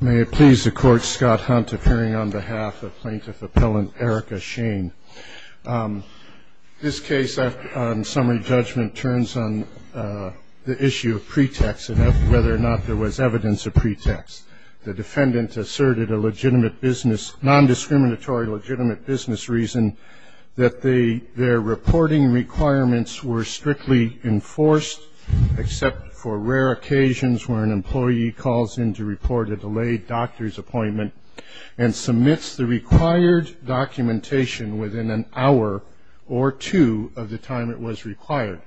May it please the Court, Scott Hunt, appearing on behalf of Plaintiff Appellant Erica Schoen. This case, on summary judgment, turns on the issue of pretext and whether or not there was evidence of pretext. The defendant asserted a legitimate business – non-discriminatory legitimate business reason that their reporting requirements were strictly enforced, except for rare occasions where an employee calls in to report a delayed doctor's appointment and submits the required documentation within an hour or two of the time it was required.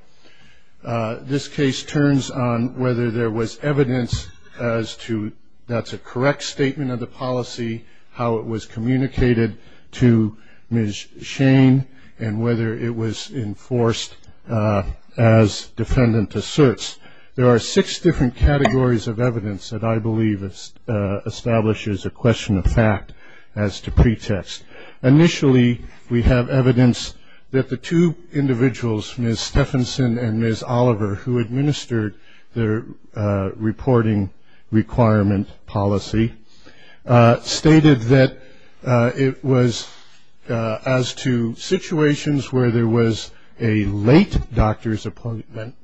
This case turns on whether there was evidence as to that's a correct statement of the policy, how it was communicated to Ms. Schoen, and whether it was enforced as defendant asserts. There are six different categories of evidence that I believe establishes a question of fact as to pretext. Initially, we have evidence that the two individuals, Ms. Stephenson and Ms. Oliver, who administered their reporting requirement policy, stated that it was as to situations where there was a late doctor's appointment,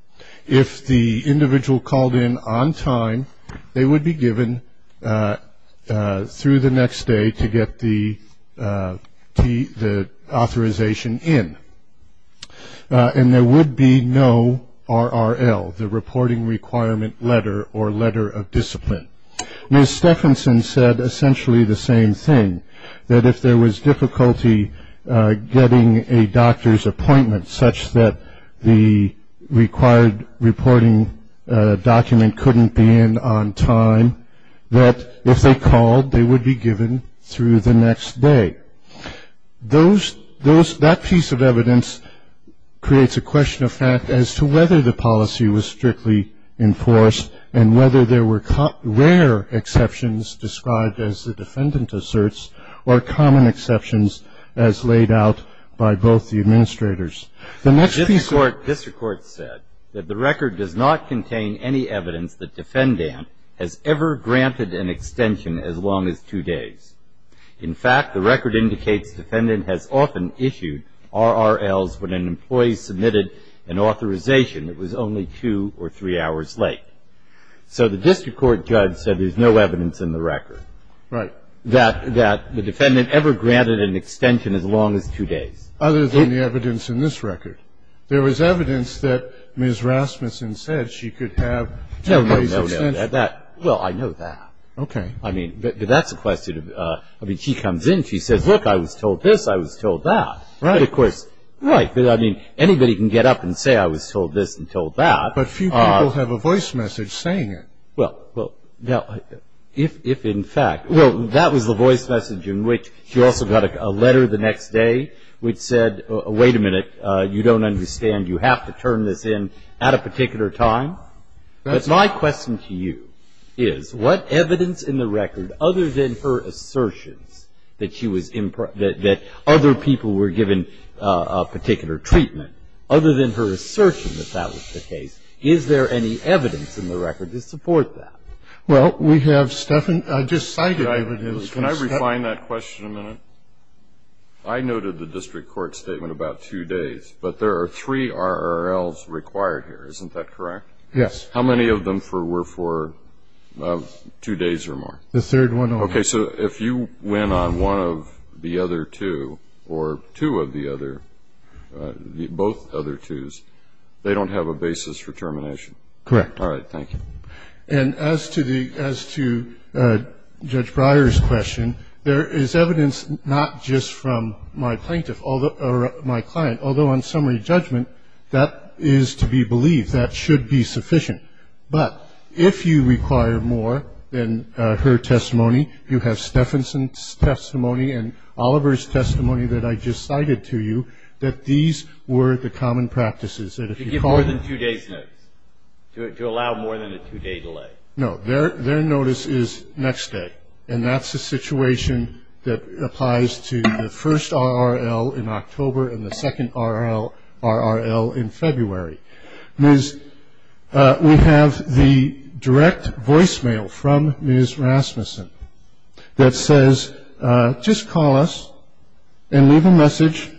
if the individual called in on time, they would be given through the next day to get the authorization in. And there would be no RRL, the reporting requirement letter or letter of discipline. Ms. Stephenson said essentially the same thing, that if there was difficulty getting a doctor's appointment such that the required reporting document couldn't be in on time, that if they called, they would be given through the next day. Those, that piece of evidence creates a question of fact as to whether the policy was strictly enforced and whether there were rare exceptions described as the defendant asserts or common exceptions as laid out by both the administrators. The next piece of- The district court said that the record does not contain any evidence that defendant has ever granted an extension as long as two days. In fact, the record indicates defendant has often issued RRLs when an employee submitted an authorization that was only two or three hours late. So the district court judge said there's no evidence in the record. Right. That the defendant ever granted an extension as long as two days. Other than the evidence in this record. There was evidence that Ms. Rasmussen said she could have two days extension. No, no, no. Well, I know that. Okay. I mean, that's a question of, I mean, she comes in, she says, look, I was told this, I was told that. Right. Of course, right. I mean, anybody can get up and say I was told this and told that. But few people have a voice message saying it. Well, if in fact, well, that was the voice message in which she also got a letter the next day which said, wait a minute, you don't understand, you have to turn this in at a particular time. That's right. My question to you is what evidence in the record other than her assertions that she was, that other people were given a particular treatment, other than her assertion that that was the case, is there any evidence in the record to support that? Well, we have, Stephan, I just cited evidence. Can I refine that question a minute? I noted the district court statement about two days. But there are three RRLs required here. Isn't that correct? Yes. How many of them were for two days or more? The third one. Okay. So if you went on one of the other two or two of the other, both other twos, they don't have a basis for termination? Correct. All right. Thank you. And as to Judge Breyer's question, there is evidence not just from my client, although on summary judgment that is to be believed. That should be sufficient. But if you require more than her testimony, you have Stephanson's testimony and Oliver's testimony that I just cited to you, that these were the common practices. To give more than two days notice, to allow more than a two-day delay. No. Their notice is next day. And that's a situation that applies to the first RRL in October and the second RRL in February. We have the direct voicemail from Ms. Rasmussen that says, just call us and leave a message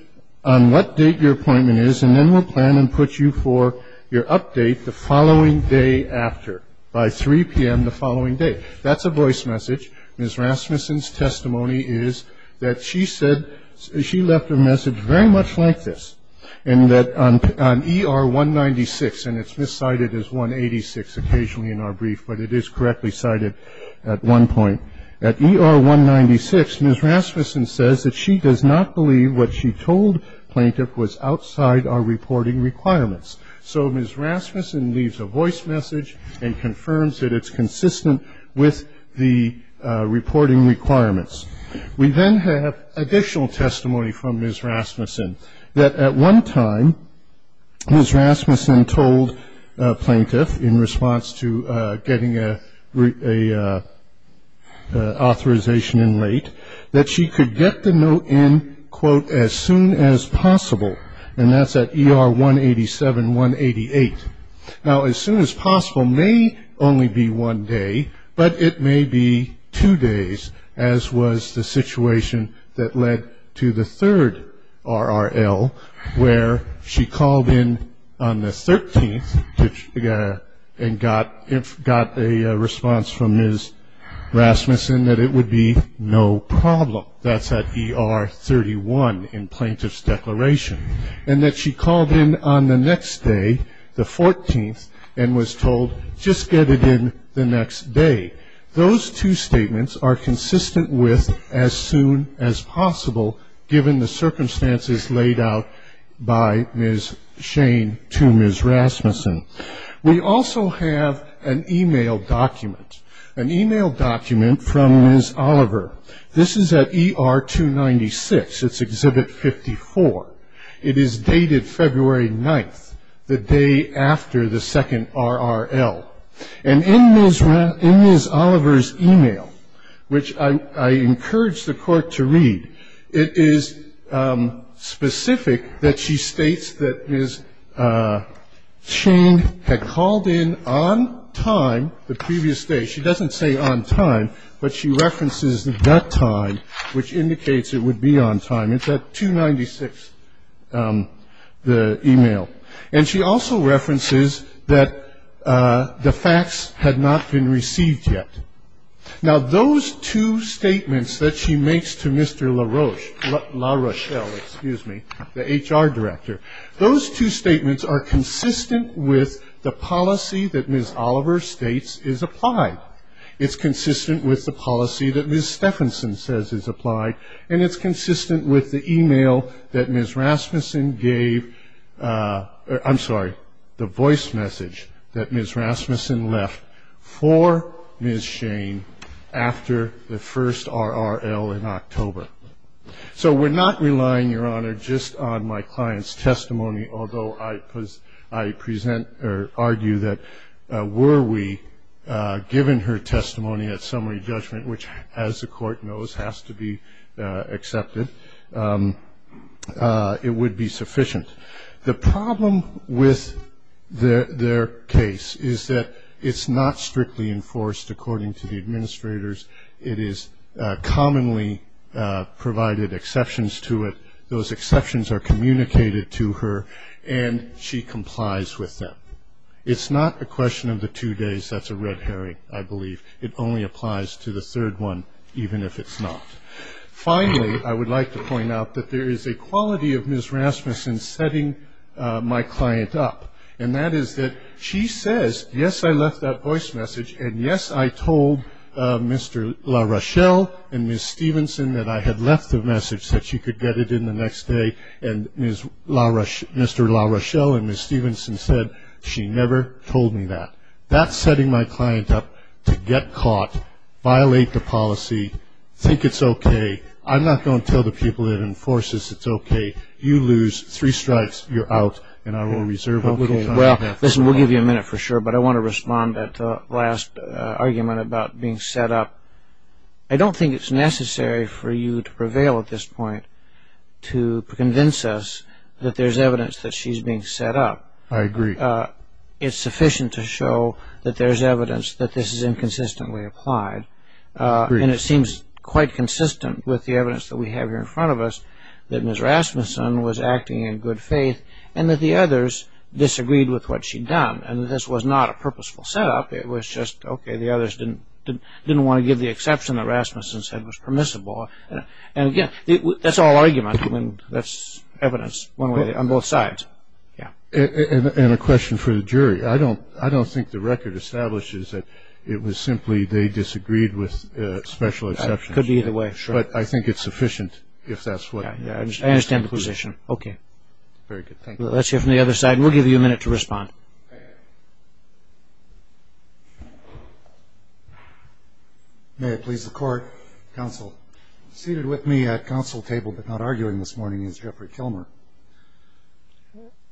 on what date your appointment is, and then we'll plan and put you for your update the following day after, by 3 p.m. the following day. That's a voice message. Ms. Rasmussen's testimony is that she said she left a message very much like this, and that on ER 196, and it's miscited as 186 occasionally in our brief, but it is correctly cited at one point. At ER 196, Ms. Rasmussen says that she does not believe what she told plaintiff was outside our reporting requirements. So Ms. Rasmussen leaves a voice message and confirms that it's consistent with the reporting requirements. We then have additional testimony from Ms. Rasmussen, that at one time Ms. Rasmussen told plaintiff, in response to getting an authorization in late, that she could get the note in, quote, as soon as possible, and that's at ER 187, 188. Now, as soon as possible may only be one day, but it may be two days, as was the situation that led to the third RRL, where she called in on the 13th and got a response from Ms. Rasmussen that it would be no problem. That's at ER 31 in plaintiff's declaration, and that she called in on the next day, the 14th, and was told just get it in the next day. Those two statements are consistent with as soon as possible, given the circumstances laid out by Ms. Shane to Ms. Rasmussen. We also have an e-mail document. An e-mail document from Ms. Oliver. This is at ER 296. It's Exhibit 54. It is dated February 9th, the day after the second RRL. And in Ms. Oliver's e-mail, which I encourage the Court to read, it is specific that she states that Ms. Shane had called in on time the previous day. She doesn't say on time, but she references the time, which indicates it would be on time. It's at 296, the e-mail. And she also references that the fax had not been received yet. Now, those two statements that she makes to Mr. LaRoche, La Rochelle, excuse me, the HR director, those two statements are consistent with the policy that Ms. Oliver states is applied. It's consistent with the policy that Ms. Stephenson says is applied, and it's consistent with the e-mail that Ms. Rasmussen gave or, I'm sorry, the voice message that Ms. Rasmussen left for Ms. Shane after the first RRL in October. So we're not relying, Your Honor, just on my client's testimony, although I present or argue that were we given her testimony at summary judgment, which, as the Court knows, has to be accepted, it would be sufficient. The problem with their case is that it's not strictly enforced, according to the administrators. It is commonly provided exceptions to it. Those exceptions are communicated to her, and she complies with them. It's not a question of the two days. That's a red herring, I believe. It only applies to the third one, even if it's not. Finally, I would like to point out that there is a quality of Ms. Rasmussen setting my client up, and that is that she says, yes, I left that voice message, and yes, I told Mr. LaRochelle and Ms. Stevenson that I had left the message that she could get it in the next day, and Mr. LaRochelle and Ms. Stevenson said she never told me that. That's setting my client up to get caught, violate the policy, think it's okay. I'm not going to tell the people that enforce this it's okay. You lose three stripes, you're out, and I will reserve it. We'll give you a minute for sure, but I want to respond to that last argument about being set up. I don't think it's necessary for you to prevail at this point to convince us that there's evidence that she's being set up. I agree. It's sufficient to show that there's evidence that this is inconsistently applied, and it seems quite consistent with the evidence that we have here in front of us that Ms. Rasmussen was acting in good faith and that the others disagreed with what she'd done, and this was not a purposeful setup. It was just, okay, the others didn't want to give the exception that Rasmussen said was permissible. Again, that's all argument. I mean, that's evidence on both sides. And a question for the jury. I don't think the record establishes that it was simply they disagreed with special exceptions. It could be either way. But I think it's sufficient if that's what it is. I understand the position. Okay. Very good. Thank you. Let's hear from the other side, and we'll give you a minute to respond. May it please the Court. Counsel. Seated with me at counsel table but not arguing this morning is Jeffrey Kilmer.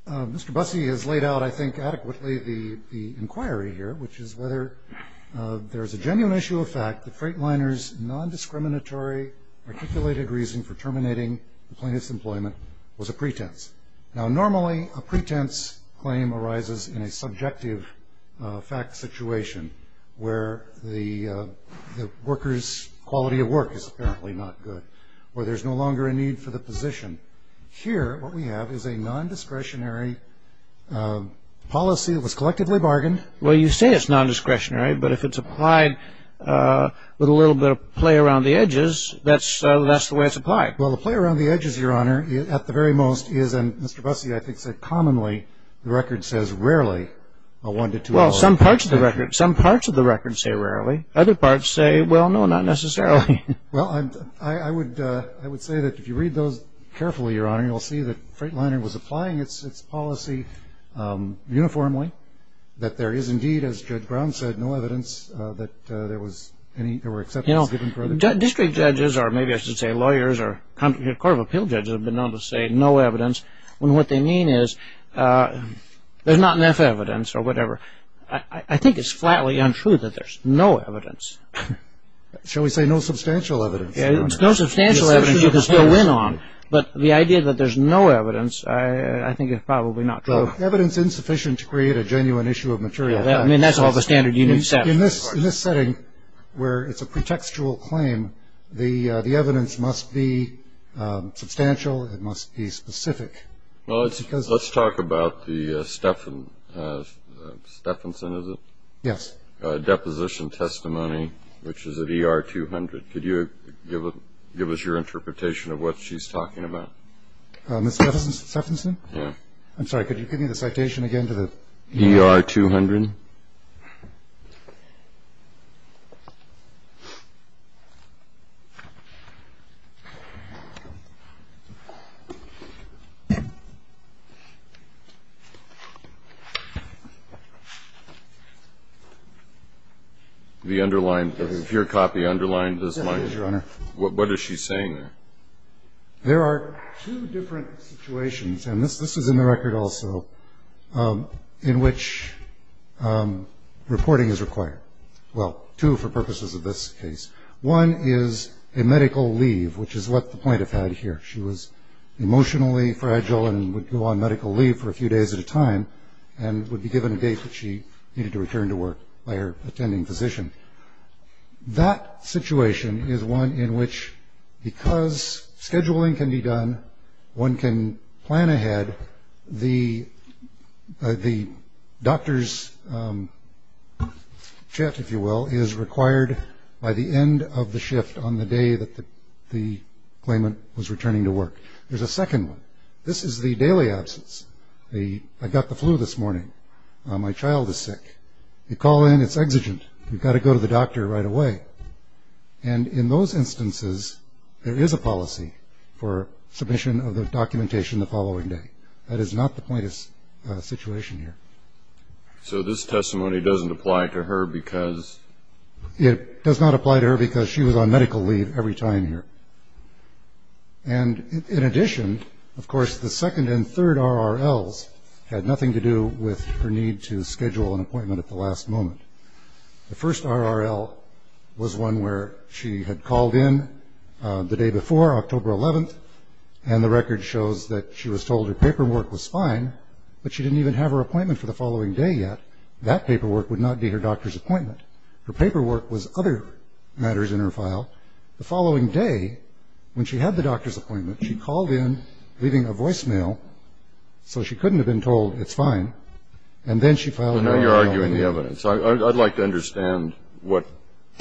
Mr. Bussey has laid out, I think, adequately the inquiry here, which is whether there's a genuine issue of fact that freight liners' nondiscriminatory articulated reason for terminating the plaintiff's employment was a pretense. Now, normally a pretense claim arises in a subjective fact situation where the worker's quality of work is apparently not good, where there's no longer a need for the position. Here, what we have is a nondiscretionary policy that was collectively bargained. Well, you say it's nondiscretionary, but if it's applied with a little bit of play around the edges, that's the way it's applied. Well, the play around the edges, Your Honor, at the very most is, and Mr. Bussey, I think, said commonly the record says rarely a one-to-two vote. Well, some parts of the record say rarely. Other parts say, well, no, not necessarily. Well, I would say that if you read those carefully, Your Honor, you'll see that freight lining was applying its policy uniformly, that there is indeed, as Judge Brown said, no evidence that there were exceptions given for it. You know, district judges or maybe I should say lawyers or court of appeal judges have been known to say no evidence, when what they mean is there's not enough evidence or whatever. I think it's flatly untrue that there's no evidence. Shall we say no substantial evidence, Your Honor? There's no substantial evidence you can still win on, but the idea that there's no evidence I think is probably not true. Well, evidence insufficient to create a genuine issue of material evidence. I mean, that's all the standard you need to set. In this setting where it's a pretextual claim, the evidence must be substantial. It must be specific. Well, let's talk about the Stephenson, is it? Yes. Deposition testimony, which is at ER 200. Could you give us your interpretation of what she's talking about? Ms. Stephenson? Yes. I'm sorry, could you give me the citation again to the? ER 200. The underlined, your copy underlined this line. Yes, it does, Your Honor. What is she saying there? There are two different situations, and this is in the record also, in which reporting is required. Well, two for purposes of this case. One is a medical leave, which is what the plaintiff had here. She was emotionally fragile and would go on medical leave for a few days at a time and would be given a date that she needed to return to work by her attending physician. That situation is one in which, because scheduling can be done, one can plan ahead, the doctor's shift, if you will, is required by the end of the shift on the day that the claimant was returning to work. There's a second one. This is the daily absence. I got the flu this morning. My child is sick. You call in, it's exigent. You've got to go to the doctor right away. And in those instances, there is a policy for submission of the documentation the following day. That is not the plaintiff's situation here. So this testimony doesn't apply to her because? It does not apply to her because she was on medical leave every time here. And in addition, of course, the second and third RRLs had nothing to do with her need to schedule an appointment at the last moment. The first RRL was one where she had called in the day before, October 11th, and the record shows that she was told her paperwork was fine, but she didn't even have her appointment for the following day yet. That paperwork would not be her doctor's appointment. Her paperwork was other matters in her file. The following day, when she had the doctor's appointment, she called in leaving a voicemail so she couldn't have been told it's fine, and then she filed an RRL. But now you're arguing the evidence. I'd like to understand what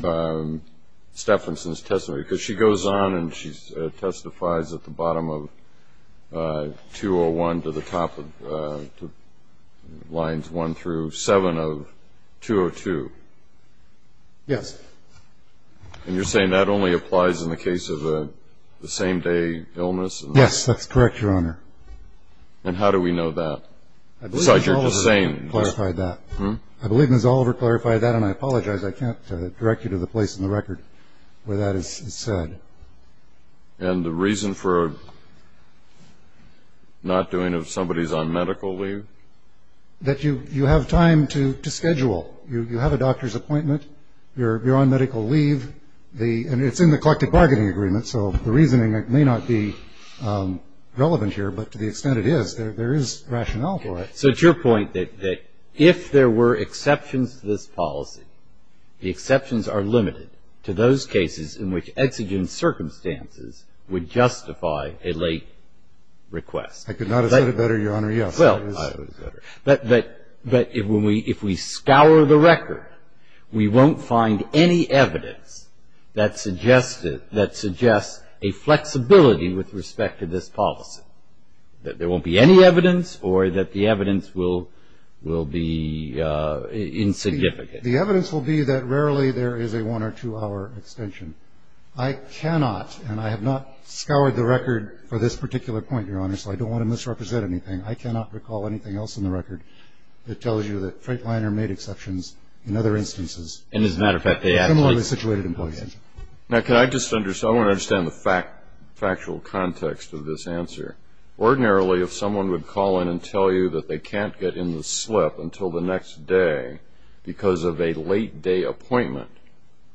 Staffordson's testimony, because she goes on and she testifies at the bottom of 201 to the top of lines 1 through 7 of 202. Yes. And you're saying that only applies in the case of a same-day illness? Yes, that's correct, Your Honor. And how do we know that? I believe Ms. Oliver clarified that, and I apologize. I can't direct you to the place in the record where that is said. And the reason for not doing it if somebody's on medical leave? That you have time to schedule. You have a doctor's appointment, you're on medical leave, and it's in the collective bargaining agreement, so the reasoning may not be relevant here, but to the extent it is, there is rationale for it. So it's your point that if there were exceptions to this policy, the exceptions are limited to those cases in which exigent circumstances would justify a late request. I could not have said it better, Your Honor, yes. But if we scour the record, we won't find any evidence that suggests a flexibility with respect to this policy, that there won't be any evidence or that the evidence will be insignificant. The evidence will be that rarely there is a one- or two-hour extension. I cannot, and I have not scoured the record for this particular point, Your Honor, so I don't want to misrepresent anything. I cannot recall anything else in the record that tells you that Freightliner made exceptions in other instances. And as a matter of fact, they absolutely did. Now, can I just understand the factual context of this answer? Ordinarily, if someone would call in and tell you that they can't get in the slip until the next day because of a late-day appointment,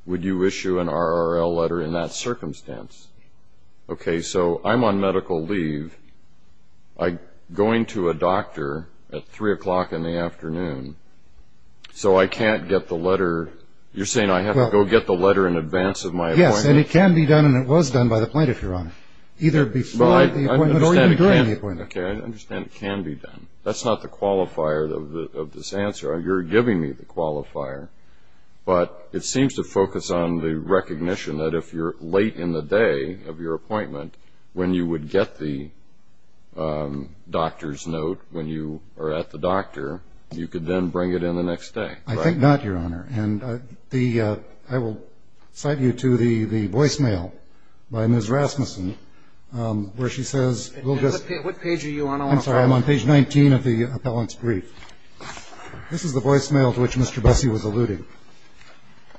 would you issue an RRL letter in that circumstance? Okay, so I'm on medical leave. I'm going to a doctor at 3 o'clock in the afternoon, so I can't get the letter. You're saying I have to go get the letter in advance of my appointment? Yes, and it can be done, and it was done by the plaintiff, Your Honor, either before the appointment or even during the appointment. Okay, I understand it can be done. That's not the qualifier of this answer. You're giving me the qualifier. But it seems to focus on the recognition that if you're late in the day of your appointment, when you would get the doctor's note when you are at the doctor, you could then bring it in the next day. I think not, Your Honor. And I will cite you to the voicemail by Ms. Rasmussen where she says we'll just ---- What page are you on? I'm sorry. I'm on page 19 of the appellant's brief. This is the voicemail to which Mr. Bessie was alluding,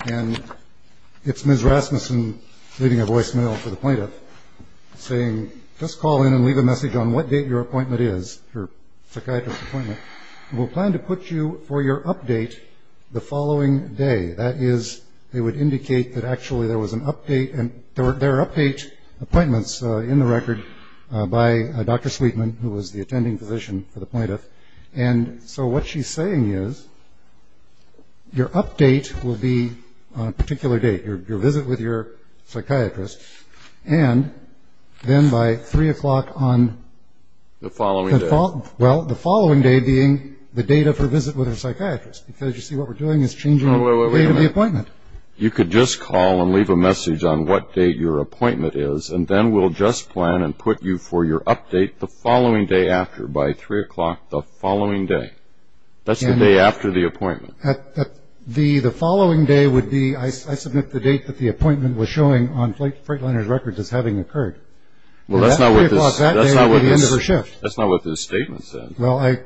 and it's Ms. Rasmussen leaving a voicemail for the plaintiff saying just call in and leave a message on what date your appointment is, your psychiatrist appointment. We'll plan to put you for your update the following day. That is, it would indicate that actually there was an update and there are update appointments in the record by Dr. Sweetman, who was the attending physician for the plaintiff. And so what she's saying is your update will be on a particular date, your visit with your psychiatrist, and then by 3 o'clock on ---- The following day. Well, the following day being the date of her visit with her psychiatrist because you see what we're doing is changing the date of the appointment. You could just call and leave a message on what date your appointment is, and then we'll just plan and put you for your update the following day after, by 3 o'clock the following day. That's the day after the appointment. The following day would be I submit the date that the appointment was showing on Freightliner's record as having occurred. That's 3 o'clock that day at the end of her shift. That's not what this statement said. Well, I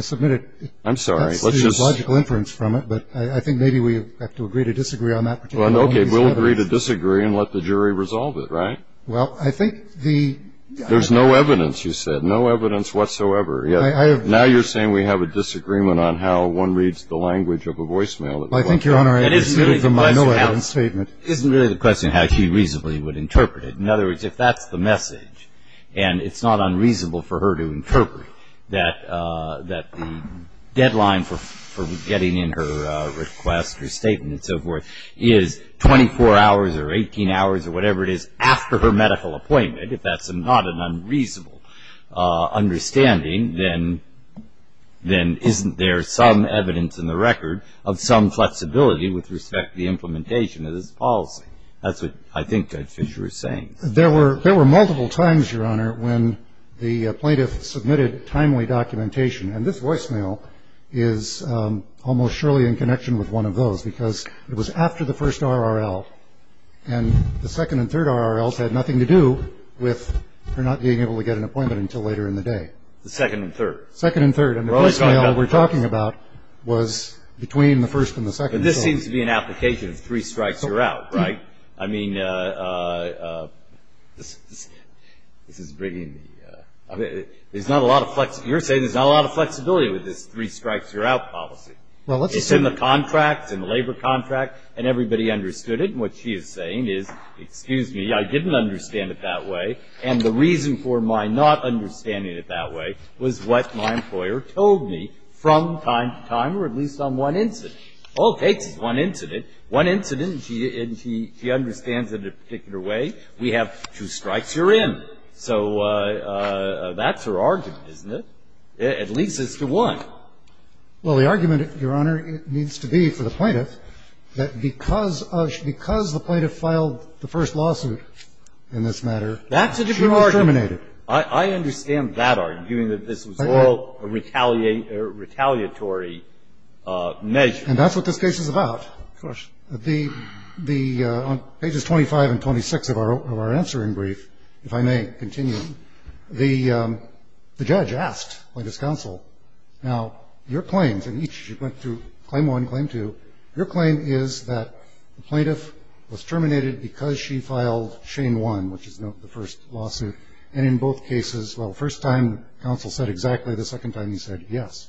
submitted it. I'm sorry. That's the logical inference from it, but I think maybe we have to agree to disagree on that particular one. Okay. We'll agree to disagree and let the jury resolve it, right? Well, I think the ---- There's no evidence, you said, no evidence whatsoever. Now you're saying we have a disagreement on how one reads the language of a voicemail. I think, Your Honor, it is really the question of how she reasonably would interpret it. In other words, if that's the message and it's not unreasonable for her to interpret that the deadline for getting in her request, her statement and so forth, is 24 hours or 18 hours or whatever it is after her medical appointment, if that's not an unreasonable understanding, then isn't there some evidence in the record of some flexibility with respect to the implementation of this policy? That's what I think Judge Fischer is saying. There were multiple times, Your Honor, when the plaintiff submitted timely documentation, and this voicemail is almost surely in connection with one of those because it was after the first RRL, and the second and third RRLs had nothing to do with her not being able to get an appointment until later in the day. The second and third? Second and third. And the voicemail we're talking about was between the first and the second. But this seems to be an application of three strikes, you're out, right? I mean, this is bringing the ---- You're saying there's not a lot of flexibility with this three strikes, you're out policy. It's in the contract, it's in the labor contract, and everybody understood it. And what she is saying is, excuse me, I didn't understand it that way, and the reason for my not understanding it that way was what my employer told me from time to time, or at least on one incident. All it takes is one incident, one incident, and she understands it a particular way. We have two strikes, you're in. So that's her argument, isn't it? At least as to what? Well, the argument, Your Honor, needs to be for the plaintiff that because the plaintiff filed the first lawsuit in this matter, she was terminated. That's a different argument. I understand that argument, that this was all a retaliatory measure. And that's what this case is about, of course. On pages 25 and 26 of our answering brief, if I may continue, the judge asked plaintiff's counsel, now your claims, and she went through claim one, claim two, your claim is that the plaintiff was terminated because she filed chain one, which is the first lawsuit. And in both cases, well, the first time counsel said exactly, the second time he said yes.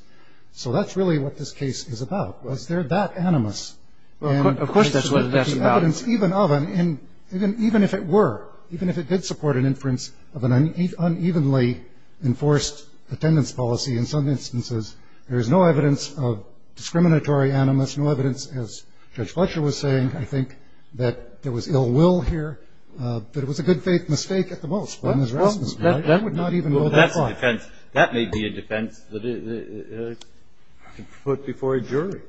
So that's really what this case is about. Was there that animus? Of course that's what it's about. Even if it were, even if it did support an inference of an unevenly enforced attendance policy in some instances, there is no evidence of discriminatory animus, no evidence, as Judge Fletcher was saying, I think that there was ill will here, that it was a good faith mistake at the most. That would not even go that far. That's a defense. That may be a defense that could be put before a jury.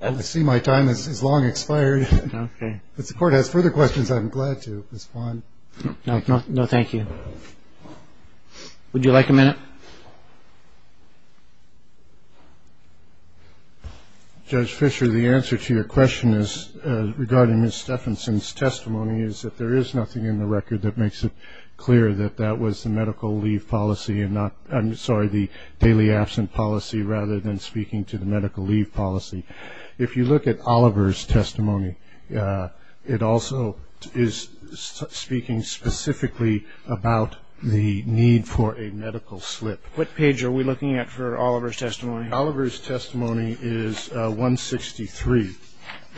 I see my time has long expired. Okay. If the Court has further questions, I'm glad to respond. No, thank you. Would you like a minute? Judge Fisher, the answer to your question regarding Ms. Steffensen's testimony is that there is nothing in the record that makes it clear that that was the medical leave policy and not, I'm sorry, the daily absent policy rather than speaking to the medical leave policy. If you look at Oliver's testimony, it also is speaking specifically about the need for a medical slip. What page are we looking at for Oliver's testimony? Oliver's testimony is 163.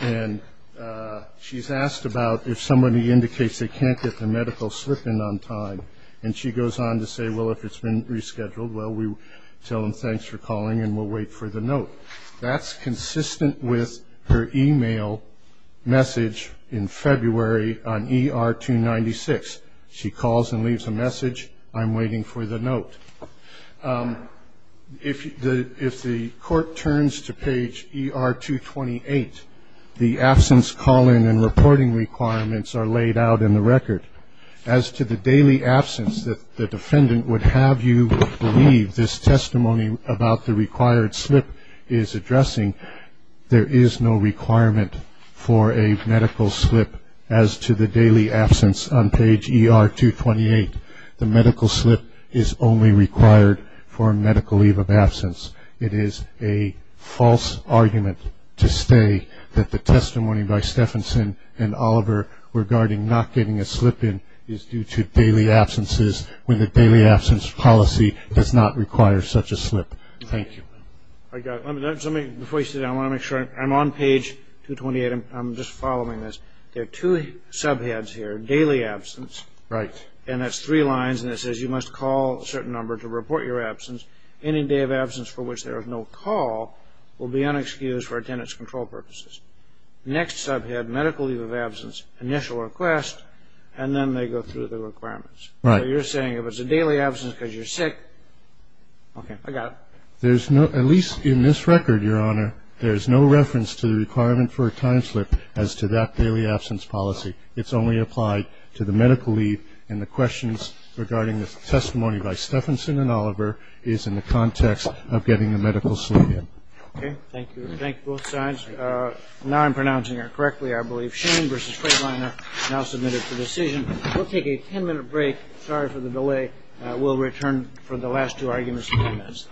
And she's asked about if somebody indicates they can't get the medical slip in on time, and she goes on to say, well, if it's been rescheduled, well, we tell them thanks for calling and we'll wait for the note. That's consistent with her e-mail message in February on ER 296. She calls and leaves a message, I'm waiting for the note. If the court turns to page ER 228, the absence call-in and reporting requirements are laid out in the record. As to the daily absence that the defendant would have you believe this testimony about the required slip is addressing, there is no requirement for a medical slip as to the daily absence on page ER 228. The medical slip is only required for a medical leave of absence. It is a false argument to say that the testimony by Stephenson and Oliver regarding not getting a slip in is due to daily absences when the daily absence policy does not require such a slip. Thank you. All right. Before you sit down, I want to make sure I'm on page 228. I'm just following this. There are two subheads here, daily absence. Right. And that's three lines, and it says you must call a certain number to report your absence. Any day of absence for which there is no call will be unexcused for attendance control purposes. Next subhead, medical leave of absence, initial request, and then they go through the requirements. Right. So you're saying if it's a daily absence because you're sick, okay, I got it. There's no, at least in this record, Your Honor, there's no reference to the requirement for a time slip as to that daily absence policy. It's only applied to the medical leave, and the questions regarding the testimony by Stephenson and Oliver is in the context of getting a medical slip in. Okay. Thank you. Thank you, both sides. Now I'm pronouncing it correctly, I believe. Shane v. Kraliner, now submitted for decision. We'll take a ten-minute break. Sorry for the delay. We'll return for the last two arguments in ten minutes.